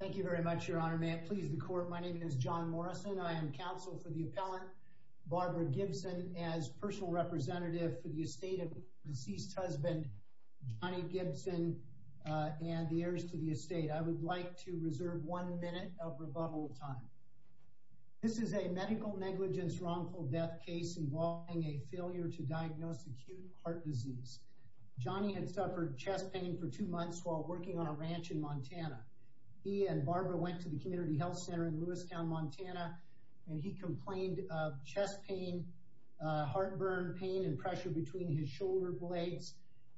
thank you very much your honor may I please the court my name is John Morrison I am counsel for the appellant Barbara Gibson as personal representative for the estate of deceased husband Johnny Gibson and the heirs to the estate I would like to reserve one minute of rebuttal time this is a medical negligence wrongful death case involving a failure to diagnose acute heart disease Johnny had suffered chest pain for two months while working on a ranch in Montana he and Barbara went to the Community Health Center in Lewistown Montana and he complained of chest pain heartburn pain and pressure between his shoulder blades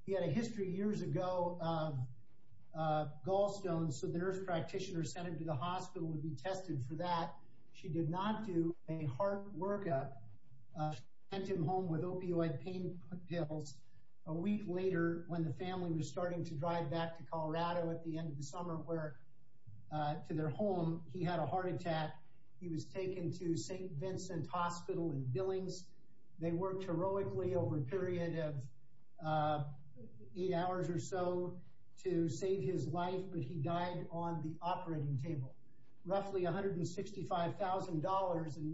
he had a history years ago of gallstones so the nurse practitioner sent him to the hospital would be tested for that she did not do a heart workup sent him home with opioid pain pills a week later when the family was starting to drive back to Colorado at the end of the summer where to their home he had a heart attack he was taken to st. Vincent Hospital in Billings they worked heroically over a period of eight hours or so to save his life but he died on the operating table roughly $165,000 in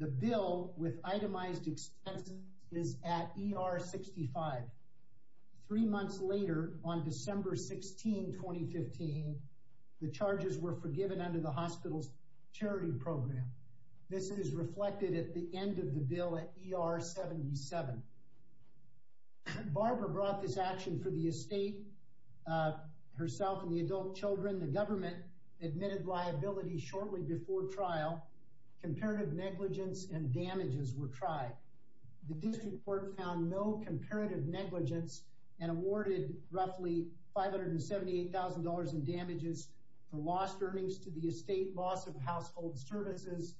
the bill with itemized expenses is at er 65 three months later on December 16 2015 the charges were forgiven under the hospital's charity program this is reflected at the end of the bill at er 77 Barbara brought this action for the estate herself and the adult children the government admitted liability shortly before trial comparative negligence and damages were tried the district court found no comparative negligence and awarded roughly five hundred and seventy eight thousand dollars in damages for lost earnings to the estate loss of household services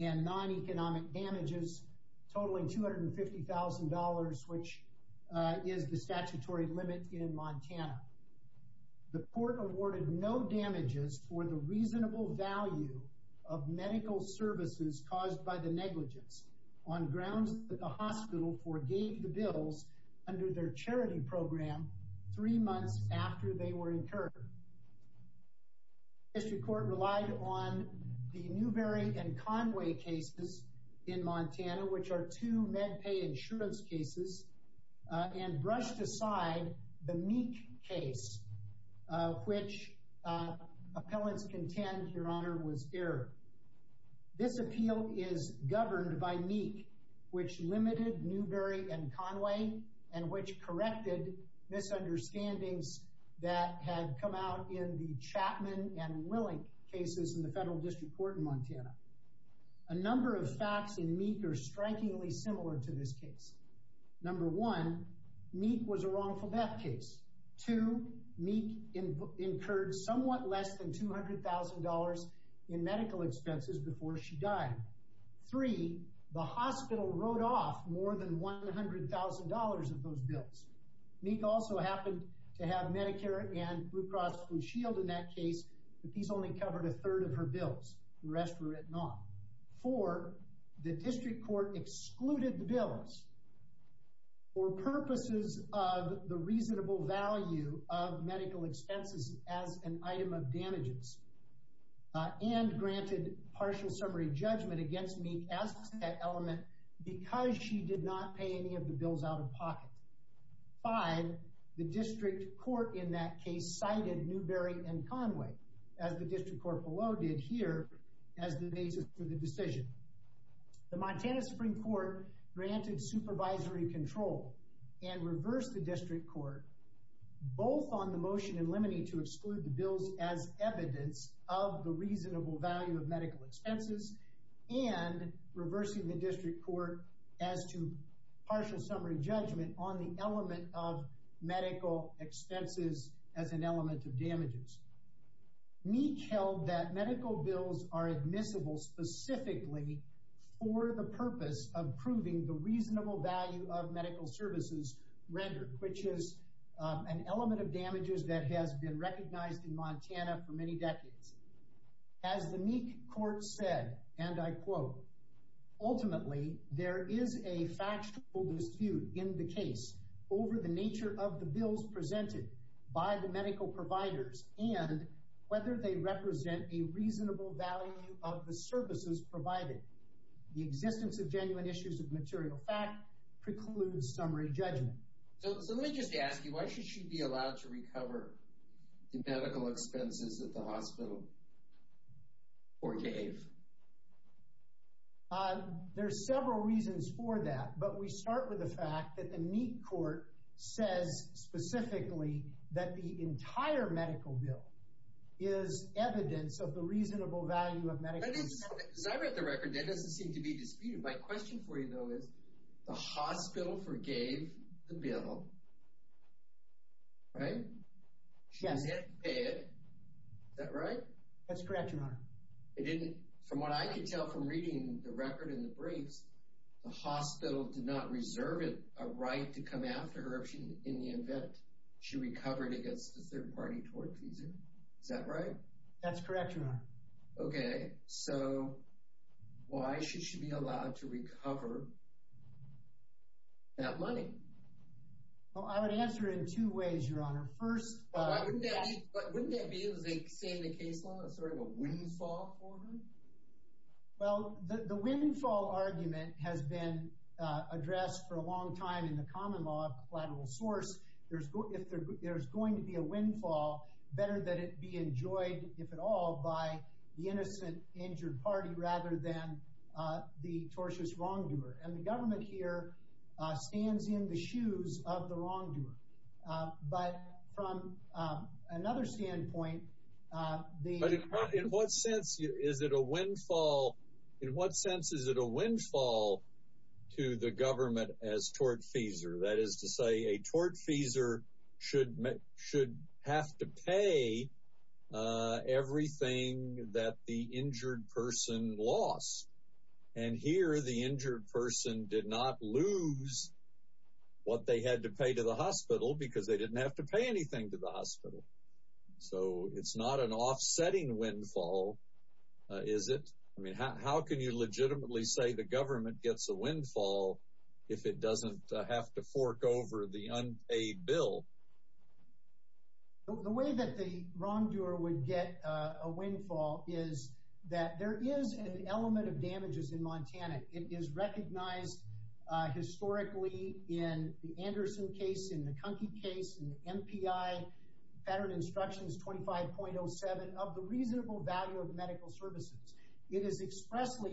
and non-economic damages totaling two hundred and fifty thousand dollars which is the statutory limit in Montana the court awarded no damages for the reasonable value of medical services caused by the negligence on grounds that the hospital forgave the bills under their charity program three months after they were incurred history court relied on the Newberry and Conway cases in Montana which are two MedPay insurance cases and brushed aside the meek case which appellants contend your honor was here this appeal is governed by meek which limited Newberry and Conway and which corrected misunderstandings that had come out in the Chapman and Willink cases in the federal district court in Montana a number of facts in meek are strikingly similar to this case number one meek was a wrongful death case two meek incurred somewhat less than two hundred thousand dollars in medical expenses before she died three the hospital wrote off more than one hundred thousand dollars of those bills meek also happened to have Medicare and Blue Cross Blue Shield in that case the piece only covered a third of her bills the district court excluded the bills or purposes of the reasonable value of medical expenses as an item of damages and granted partial summary judgment against me as an element because she did not pay any of the bills out of pocket five the district court in that case cited Newberry and Conway as the decision the Montana Supreme Court granted supervisory control and reversed the district court both on the motion and limiting to exclude the bills as evidence of the reasonable value of medical expenses and reversing the district court as to partial summary judgment on the element of medical expenses as an element of damages meek held that medical bills are admissible specifically for the purpose of proving the reasonable value of medical services rendered which is an element of damages that has been recognized in Montana for many decades as the meek court said and I quote ultimately there is a factual dispute in the case over the nature of the bills presented by the medical providers and whether they represent a reasonable value of the services provided the existence of genuine issues of material fact precludes summary judgment so let me just ask you why should she be allowed to recover the medical expenses at the hospital or gave there are several reasons for that but we medical bill is evidence of the reasonable value of my question for you though is the hospital forgave the bill right yes that right that's correct your honor it didn't from what I could tell from reading the record in the briefs the hospital did not reserve it a right to come after her if she in the she recovered against the third-party tort fees is that right that's correct your honor okay so why should she be allowed to recover that money well I would answer in two ways your honor first but wouldn't that be able to say the case on a sort of a windfall well the windfall argument has been addressed for a long time in the common law of collateral source there's if there's going to be a windfall better that it be enjoyed if at all by the innocent injured party rather than the tortious wrongdoer and the government here stands in the shoes of the wrongdoer but from another standpoint in what sense is it a government as tortfeasor that is to say a tortfeasor should make should have to pay everything that the injured person lost and here the injured person did not lose what they had to pay to the hospital because they didn't have to pay anything to the hospital so it's not an offsetting windfall is it I mean how can you legitimately say the government gets a windfall if it doesn't have to fork over the unpaid bill the way that the wrongdoer would get a windfall is that there is an element of damages in Montana it is recognized historically in the Anderson case in the Kunky case and MPI veteran instructions 25.07 of the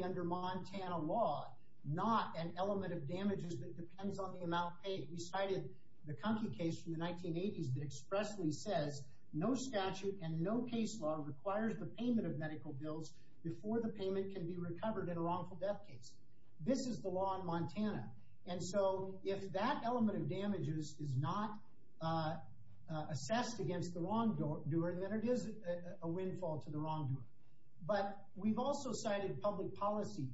under Montana law not an element of damages that depends on the amount paid we cited the Kunky case from the 1980s that expressly says no statute and no case law requires the payment of medical bills before the payment can be recovered in a wrongful death case this is the law in Montana and so if that element of damages is not assessed against the wrongdoer and then it is a windfall to but we've also cited public policy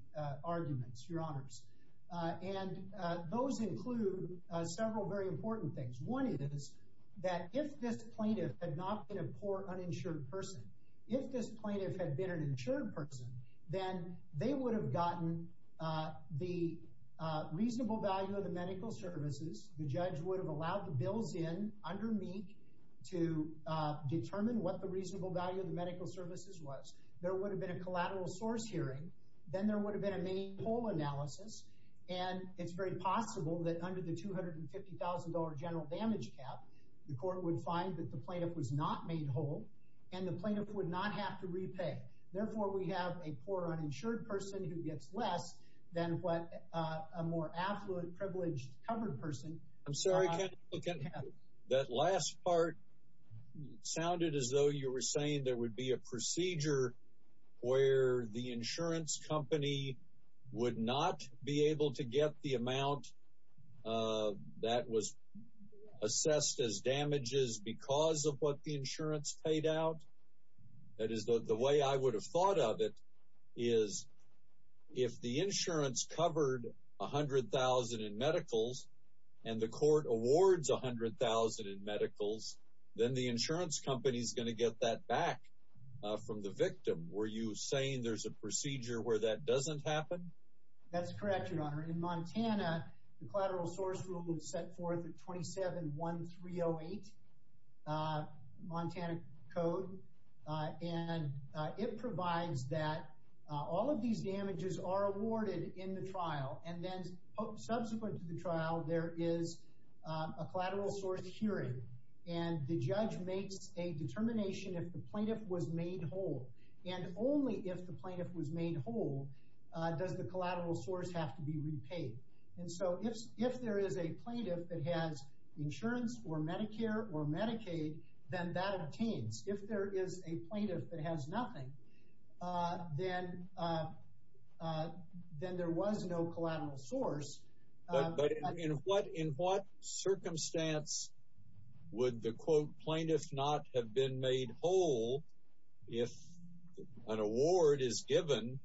arguments your honors and those include several very important things one it is that if this plaintiff had not been a poor uninsured person if this plaintiff had been an insured person then they would have gotten the reasonable value of the medical services the judge would have allowed the bills in under me to determine what the reasonable value of medical services was there would have been a collateral source hearing then there would have been a mini poll analysis and it's very possible that under the $250,000 general damage cap the court would find that the plaintiff was not made whole and the plaintiff would not have to repay therefore we have a poor uninsured person who gets less than what a more affluent privileged covered person I'm sorry okay that last part sounded as though you were saying there would be a procedure where the insurance company would not be able to get the amount that was assessed as damages because of what the insurance paid out that is the way I would have thought of it is if the insurance covered a hundred thousand in medicals and the court awards a hundred thousand in medicals then the insurance company is going to get that back from the victim were you saying there's a procedure where that doesn't happen that's correct your honor in Montana the collateral source rule would set forth at 27 1308 Montana code and it provides that all of these damages are awarded in the trial and then subsequent to the trial there is a collateral source hearing and the judge makes a determination if the plaintiff was made whole and only if the plaintiff was made whole does the collateral source have to be repaid and so if if there is a plaintiff that has insurance or Medicare or Medicaid then that obtains if there is a plaintiff that has nothing then then there was no collateral source but in what in what circumstance would the quote plaintiffs not have been made whole if an award is given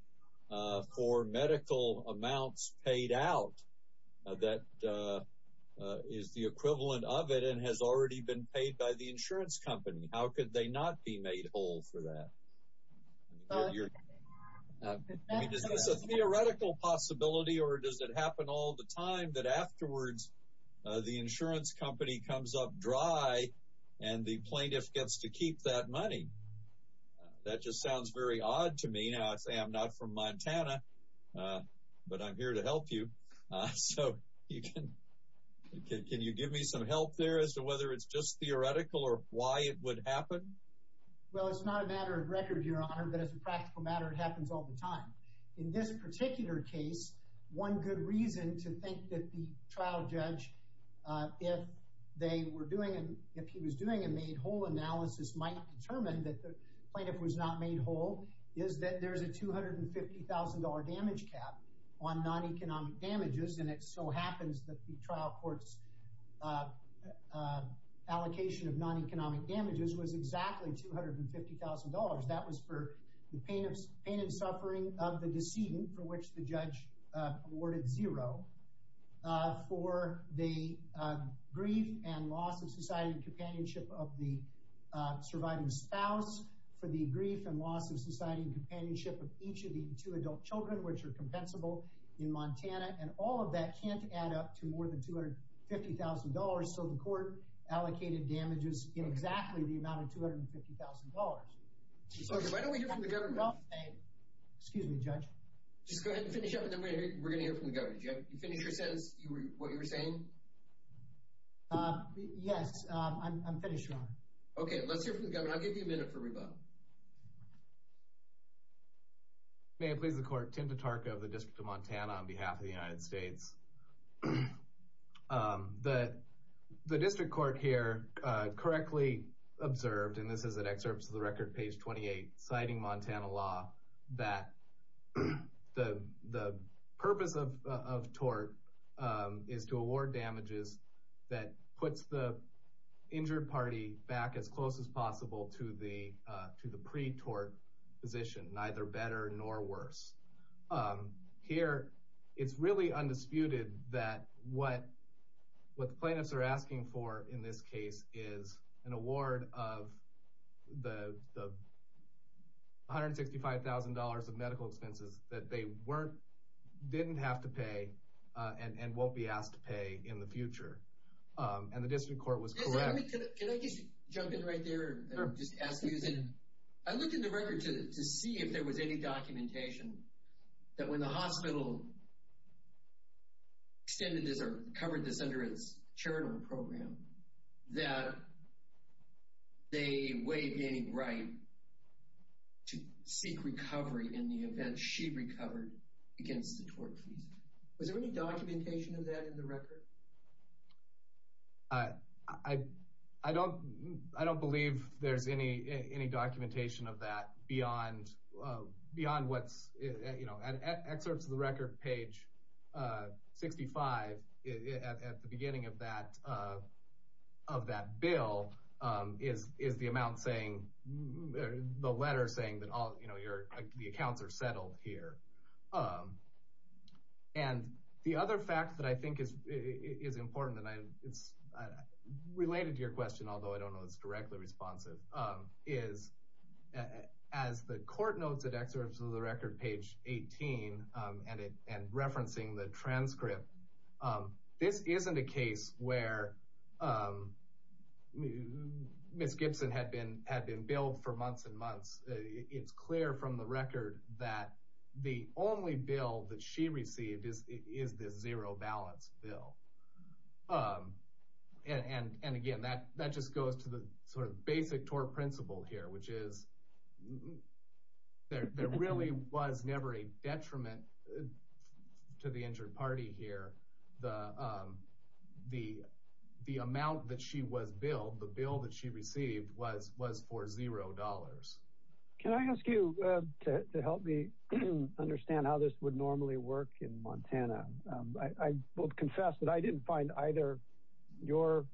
for medical amounts paid out that is the equivalent of it and has already been paid by the theoretical possibility or does it happen all the time that afterwards the insurance company comes up dry and the plaintiff gets to keep that money that just sounds very odd to me now I say I'm not from Montana but I'm here to help you so you can can you give me some help there as to whether it's just theoretical or why it would happen well it's not a matter of record your honor but as a in this particular case one good reason to think that the trial judge if they were doing and if he was doing a made whole analysis might determine that the plaintiff was not made whole is that there's a two hundred and fifty thousand dollar damage cap on non-economic damages and it so happens that the trial courts allocation of non-economic damages was exactly two hundred and of the decedent for which the judge awarded zero for the grief and loss of society companionship of the surviving spouse for the grief and loss of society companionship of each of the two adult children which are compensable in Montana and all of that can't add up to more than two hundred fifty thousand dollars so the court allocated damages in exactly the amount of two hundred fifty thousand dollars excuse me judge just go ahead and finish up and then we're gonna hear from the governor you finish your sentence you were what you were saying yes I'm finished okay let's hear from the governor I'll give you a minute for rebuttal may I please the court tend to talk of the district of Montana on behalf of the United States that the district court here correctly observed and this is an excerpt to the record page 28 citing Montana law that the the purpose of of tort is to award damages that puts the injured party back as close as possible to the to the pre-tort position neither better nor worse here it's really undisputed that what what the plaintiffs are asking for in this case is an award of the hundred sixty-five thousand dollars of medical expenses that they weren't didn't have to pay and won't be asked to pay in the future and the district court was correct I'm just asking I look in the record to see if there was any documentation that when the hospital covered this under its chair in our program that they weighed any right to seek recovery in the event she recovered against the tort fees was there any documentation of that in the record I I don't I don't believe there's any any documentation of that beyond beyond what's you know at excerpts of the record page 65 at the beginning of that of that bill is is the amount saying the letter saying that all you know you're the accounts are settled here and the other fact that I think is is important and I it's related to your question although I don't know it's correctly responsive is as the court notes that excerpts of the record page 18 and it and referencing the transcript this isn't a case where miss Gibson had been had been billed for months and months it's clear from the record that the only bill that she received is is this zero balance bill and and again that that just goes to the sort of basic tort principle here which is there really was never a detriment to the injured party here the the the amount that she was billed the bill that she received was was for zero dollars can I ask you to help me understand how this would normally work in Montana I will confess that I didn't find either your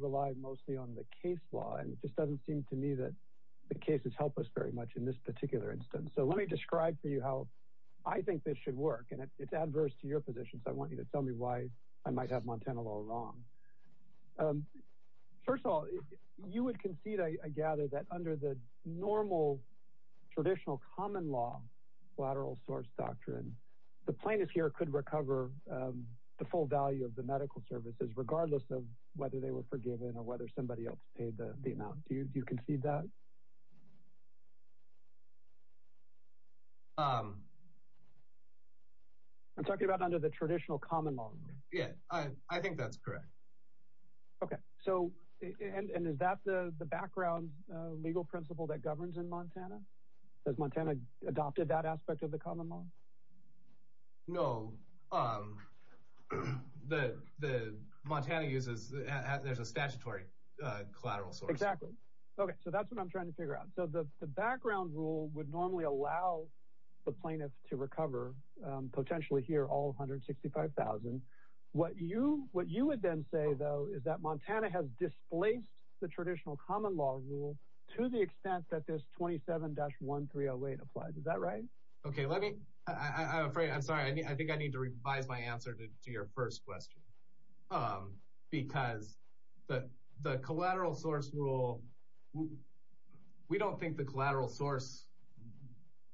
rely mostly on the case law and it just doesn't seem to me that the case has helped us very much in this particular instance so let me describe for you how I think this should work and it's adverse to your position so I want you to tell me why I might have Montana law wrong first of all you would concede I gather that under the normal traditional common law lateral source doctrine the plaintiff here could recover the full value of the medical services regardless of whether they were forgiven or whether somebody else paid the amount do you concede that I'm talking about under the traditional common law yeah I think that's correct okay so and is that the the background legal principle that governs in Montana does Montana adopted that aspect of the common law no the Montana uses there's a statutory collateral so exactly okay so that's what I'm trying to figure out so the background rule would normally allow the plaintiff to recover potentially here all 165,000 what you what you would then say though is that Montana has displaced the traditional common law rule to the extent that this 27-1 308 applies is that right okay let me I'm sorry I think I need to revise my answer to your first question because the the collateral source rule we don't think the collateral source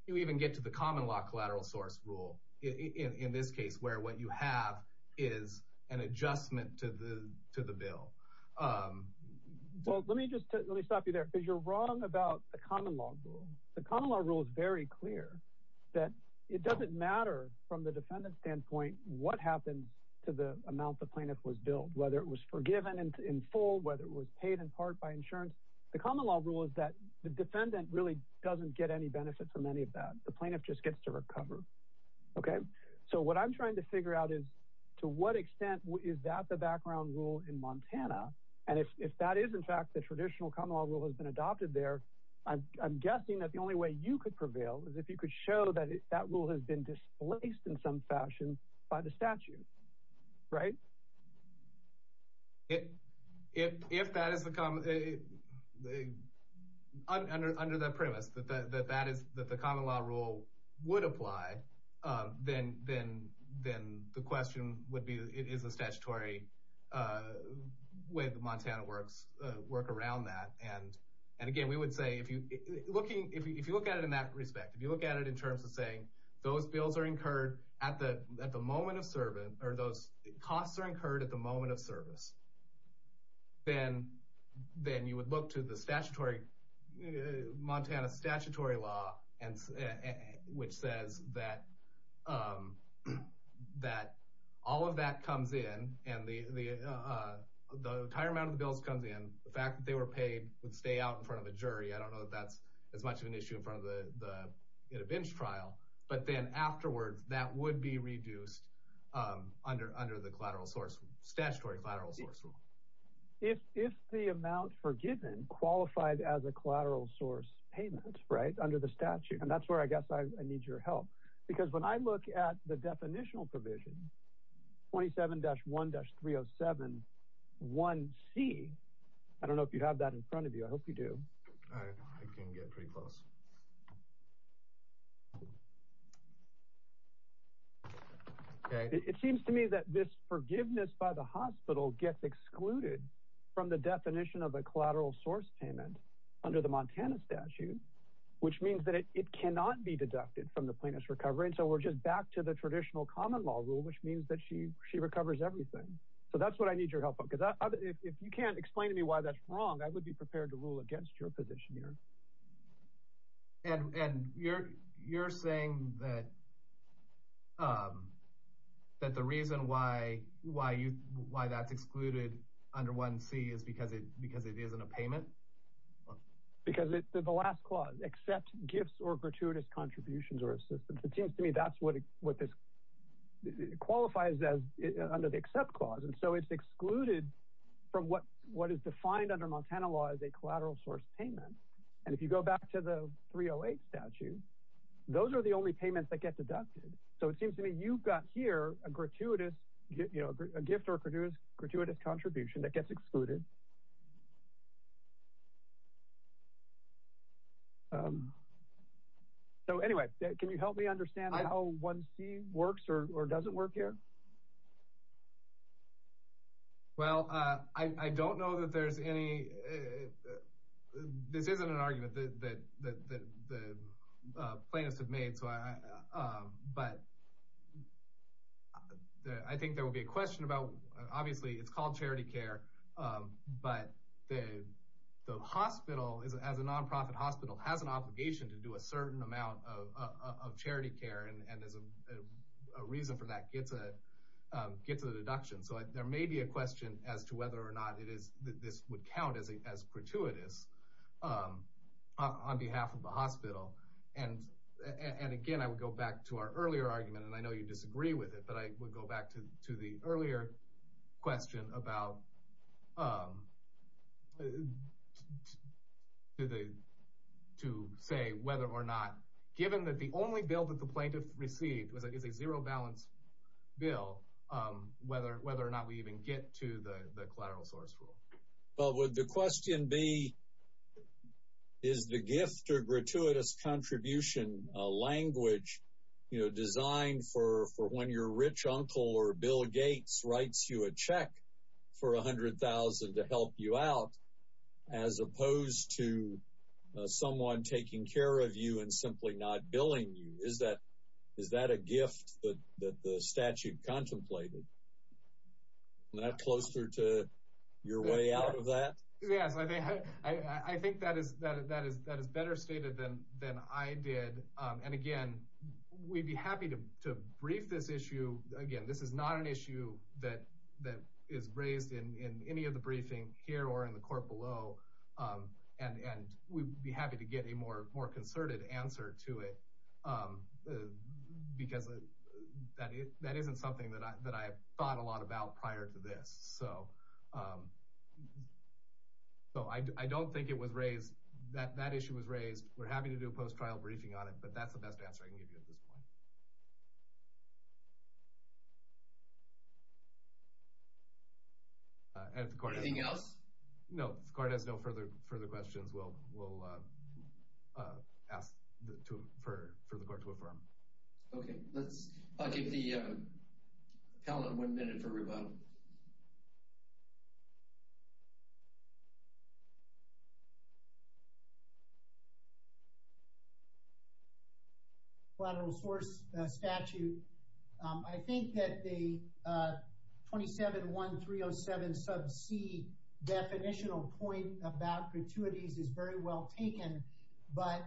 you even get to the common law collateral source rule in this case where what you have is an adjustment to the to the bill well let me just let me stop you there because you're wrong about the common law rule the common law rule is very clear that it doesn't matter from the defendant standpoint what happens to the amount the plaintiff was billed whether it was forgiven and in full whether it was paid in part by insurance the common law rule is that the defendant really doesn't get any benefit from any of that the plaintiff just gets to recover okay so what I'm trying to figure out is to what extent is that the background rule in Montana and if that is in fact the traditional common law rule has been adopted there I'm guessing that the only way you could prevail is if you could show that that rule has been displaced in some fashion by the statute right if that is the common under that premise that that is that the common law rule would apply then then then the question would be it is a statutory way the Montana works work around that and and again we would say if you looking if you look at it in that respect if you look at it in terms of saying those bills are incurred at the at the moment of service or those costs are incurred at the moment of service then then you would look to the statutory Montana statutory law and which says that that all of that comes in and the the entire amount of the bills comes in the fact that they were paid would stay out in front of a bench trial but then afterwards that would be reduced under under the collateral source statutory lateral source rule if if the amount forgiven qualified as a collateral source payment right under the statute and that's where I guess I need your help because when I look at the definitional provision 27 dash 1 dash 307 1 C I don't know if you have that in front of you I hope you do okay it seems to me that this forgiveness by the hospital gets excluded from the definition of a collateral source payment under the Montana statute which means that it cannot be deducted from the plaintiff's recovery and so we're just back to the traditional common law rule which means that she she recovers everything so that's what I need your help because if you can't explain to me why that's wrong I would be prepared to rule against your position here and and you're you're saying that that the reason why why you why that's excluded under one C is because it because it isn't a payment because it's the last clause except gifts or gratuitous contributions or assistance it seems to me that's what what this qualifies as under the except clause and so it's excluded from what what is defined under Montana law as a and if you go back to the 308 statute those are the only payments that get deducted so it seems to me you've got here a gratuitous you know a gift or produce gratuitous contribution that gets excluded so anyway can you help me understand how one C works or doesn't work here well I don't know that there's any this isn't an argument that the plaintiffs have made so I but I think there would be a question about obviously it's called charity care but the the hospital is as a nonprofit hospital has an obligation to do a certain amount of charity care and there's a reason for that gets a gets a deduction so there may be a question as to whether or not it is that this would count as a as gratuitous on behalf of the hospital and and again I would go back to our earlier argument and I know you disagree with it but I would go back to to the earlier question about the to say whether or not given that the only bill that the plaintiff received was I guess a zero balance bill whether whether or not we even get to the the question be is the gift or gratuitous contribution a language you know designed for for when your rich uncle or Bill Gates writes you a check for a hundred thousand to help you out as opposed to someone taking care of you and simply not billing you is that is that a gift but that the statute contemplated that closer to your way out of that yes I think that is that is that is better stated than than I did and again we'd be happy to brief this issue again this is not an issue that that is raised in any of the briefing here or in the court below and and we'd be happy to get a more more concerted answer to it because that is that isn't something that I thought a lot about prior to this so so I don't think it was raised that that issue was raised we're happy to do a post-trial briefing on it but that's the best answer I can give you at this point no further further questions will ask for the court to affirm okay let's give the appellant one minute for rebuttal collateral source statute I think that the 27 1307 sub C definitional point about gratuities is very well taken but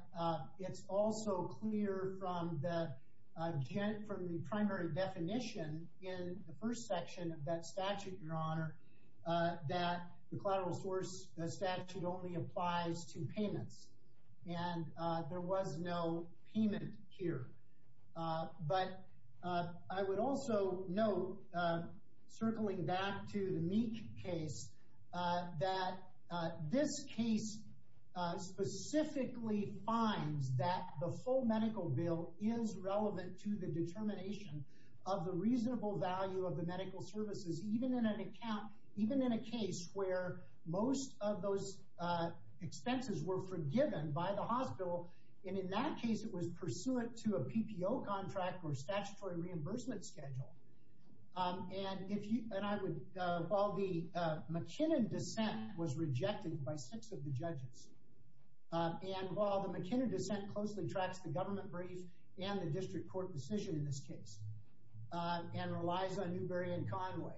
it's also clear from the jet from the primary definition in the first section of that statute your honor that the payments and there was no payment here but I would also know circling back to the meat case that this case specifically finds that the full medical bill is relevant to the determination of the reasonable value of the medical services even in an account even in a case where most of those expenses were forgiven by the hospital and in that case it was pursuant to a PPO contract or statutory reimbursement schedule and if you and I would call the McKinnon dissent was rejected by six of the judges and while the McKinnon dissent closely tracks the government brief and the district court decision in this case and relies on Newberry and Conway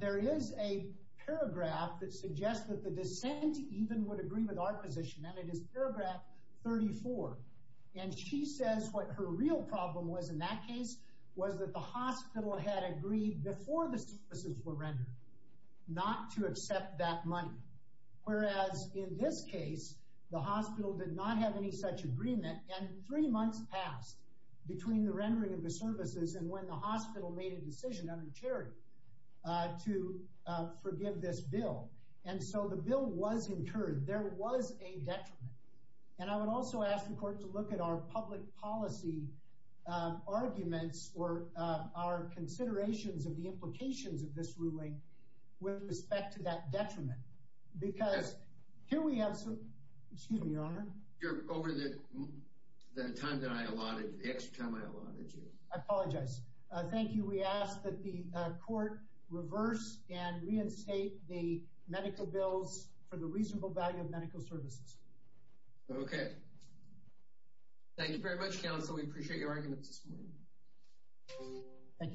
there is a paragraph that suggests that the dissent even would agree with our position and it is paragraph 34 and she says what her real problem was in that case was that the hospital had agreed before the services were rendered not to accept that money whereas in this case the hospital did not have any such agreement and three months passed between the rendering of the services and when the hospital made a decision under charity to forgive this bill and so the bill was incurred there was a detriment and I would also ask the court to look at our public policy arguments or our considerations of the implications of this ruling with respect to that detriment because here we have some excuse me your honor over the time that I allotted the extra time I allotted you I apologize thank you we ask that the court reverse and reinstate the medical bills for the reasonable value of medical services okay thank you very much counsel we appreciate your arguments this morning thank you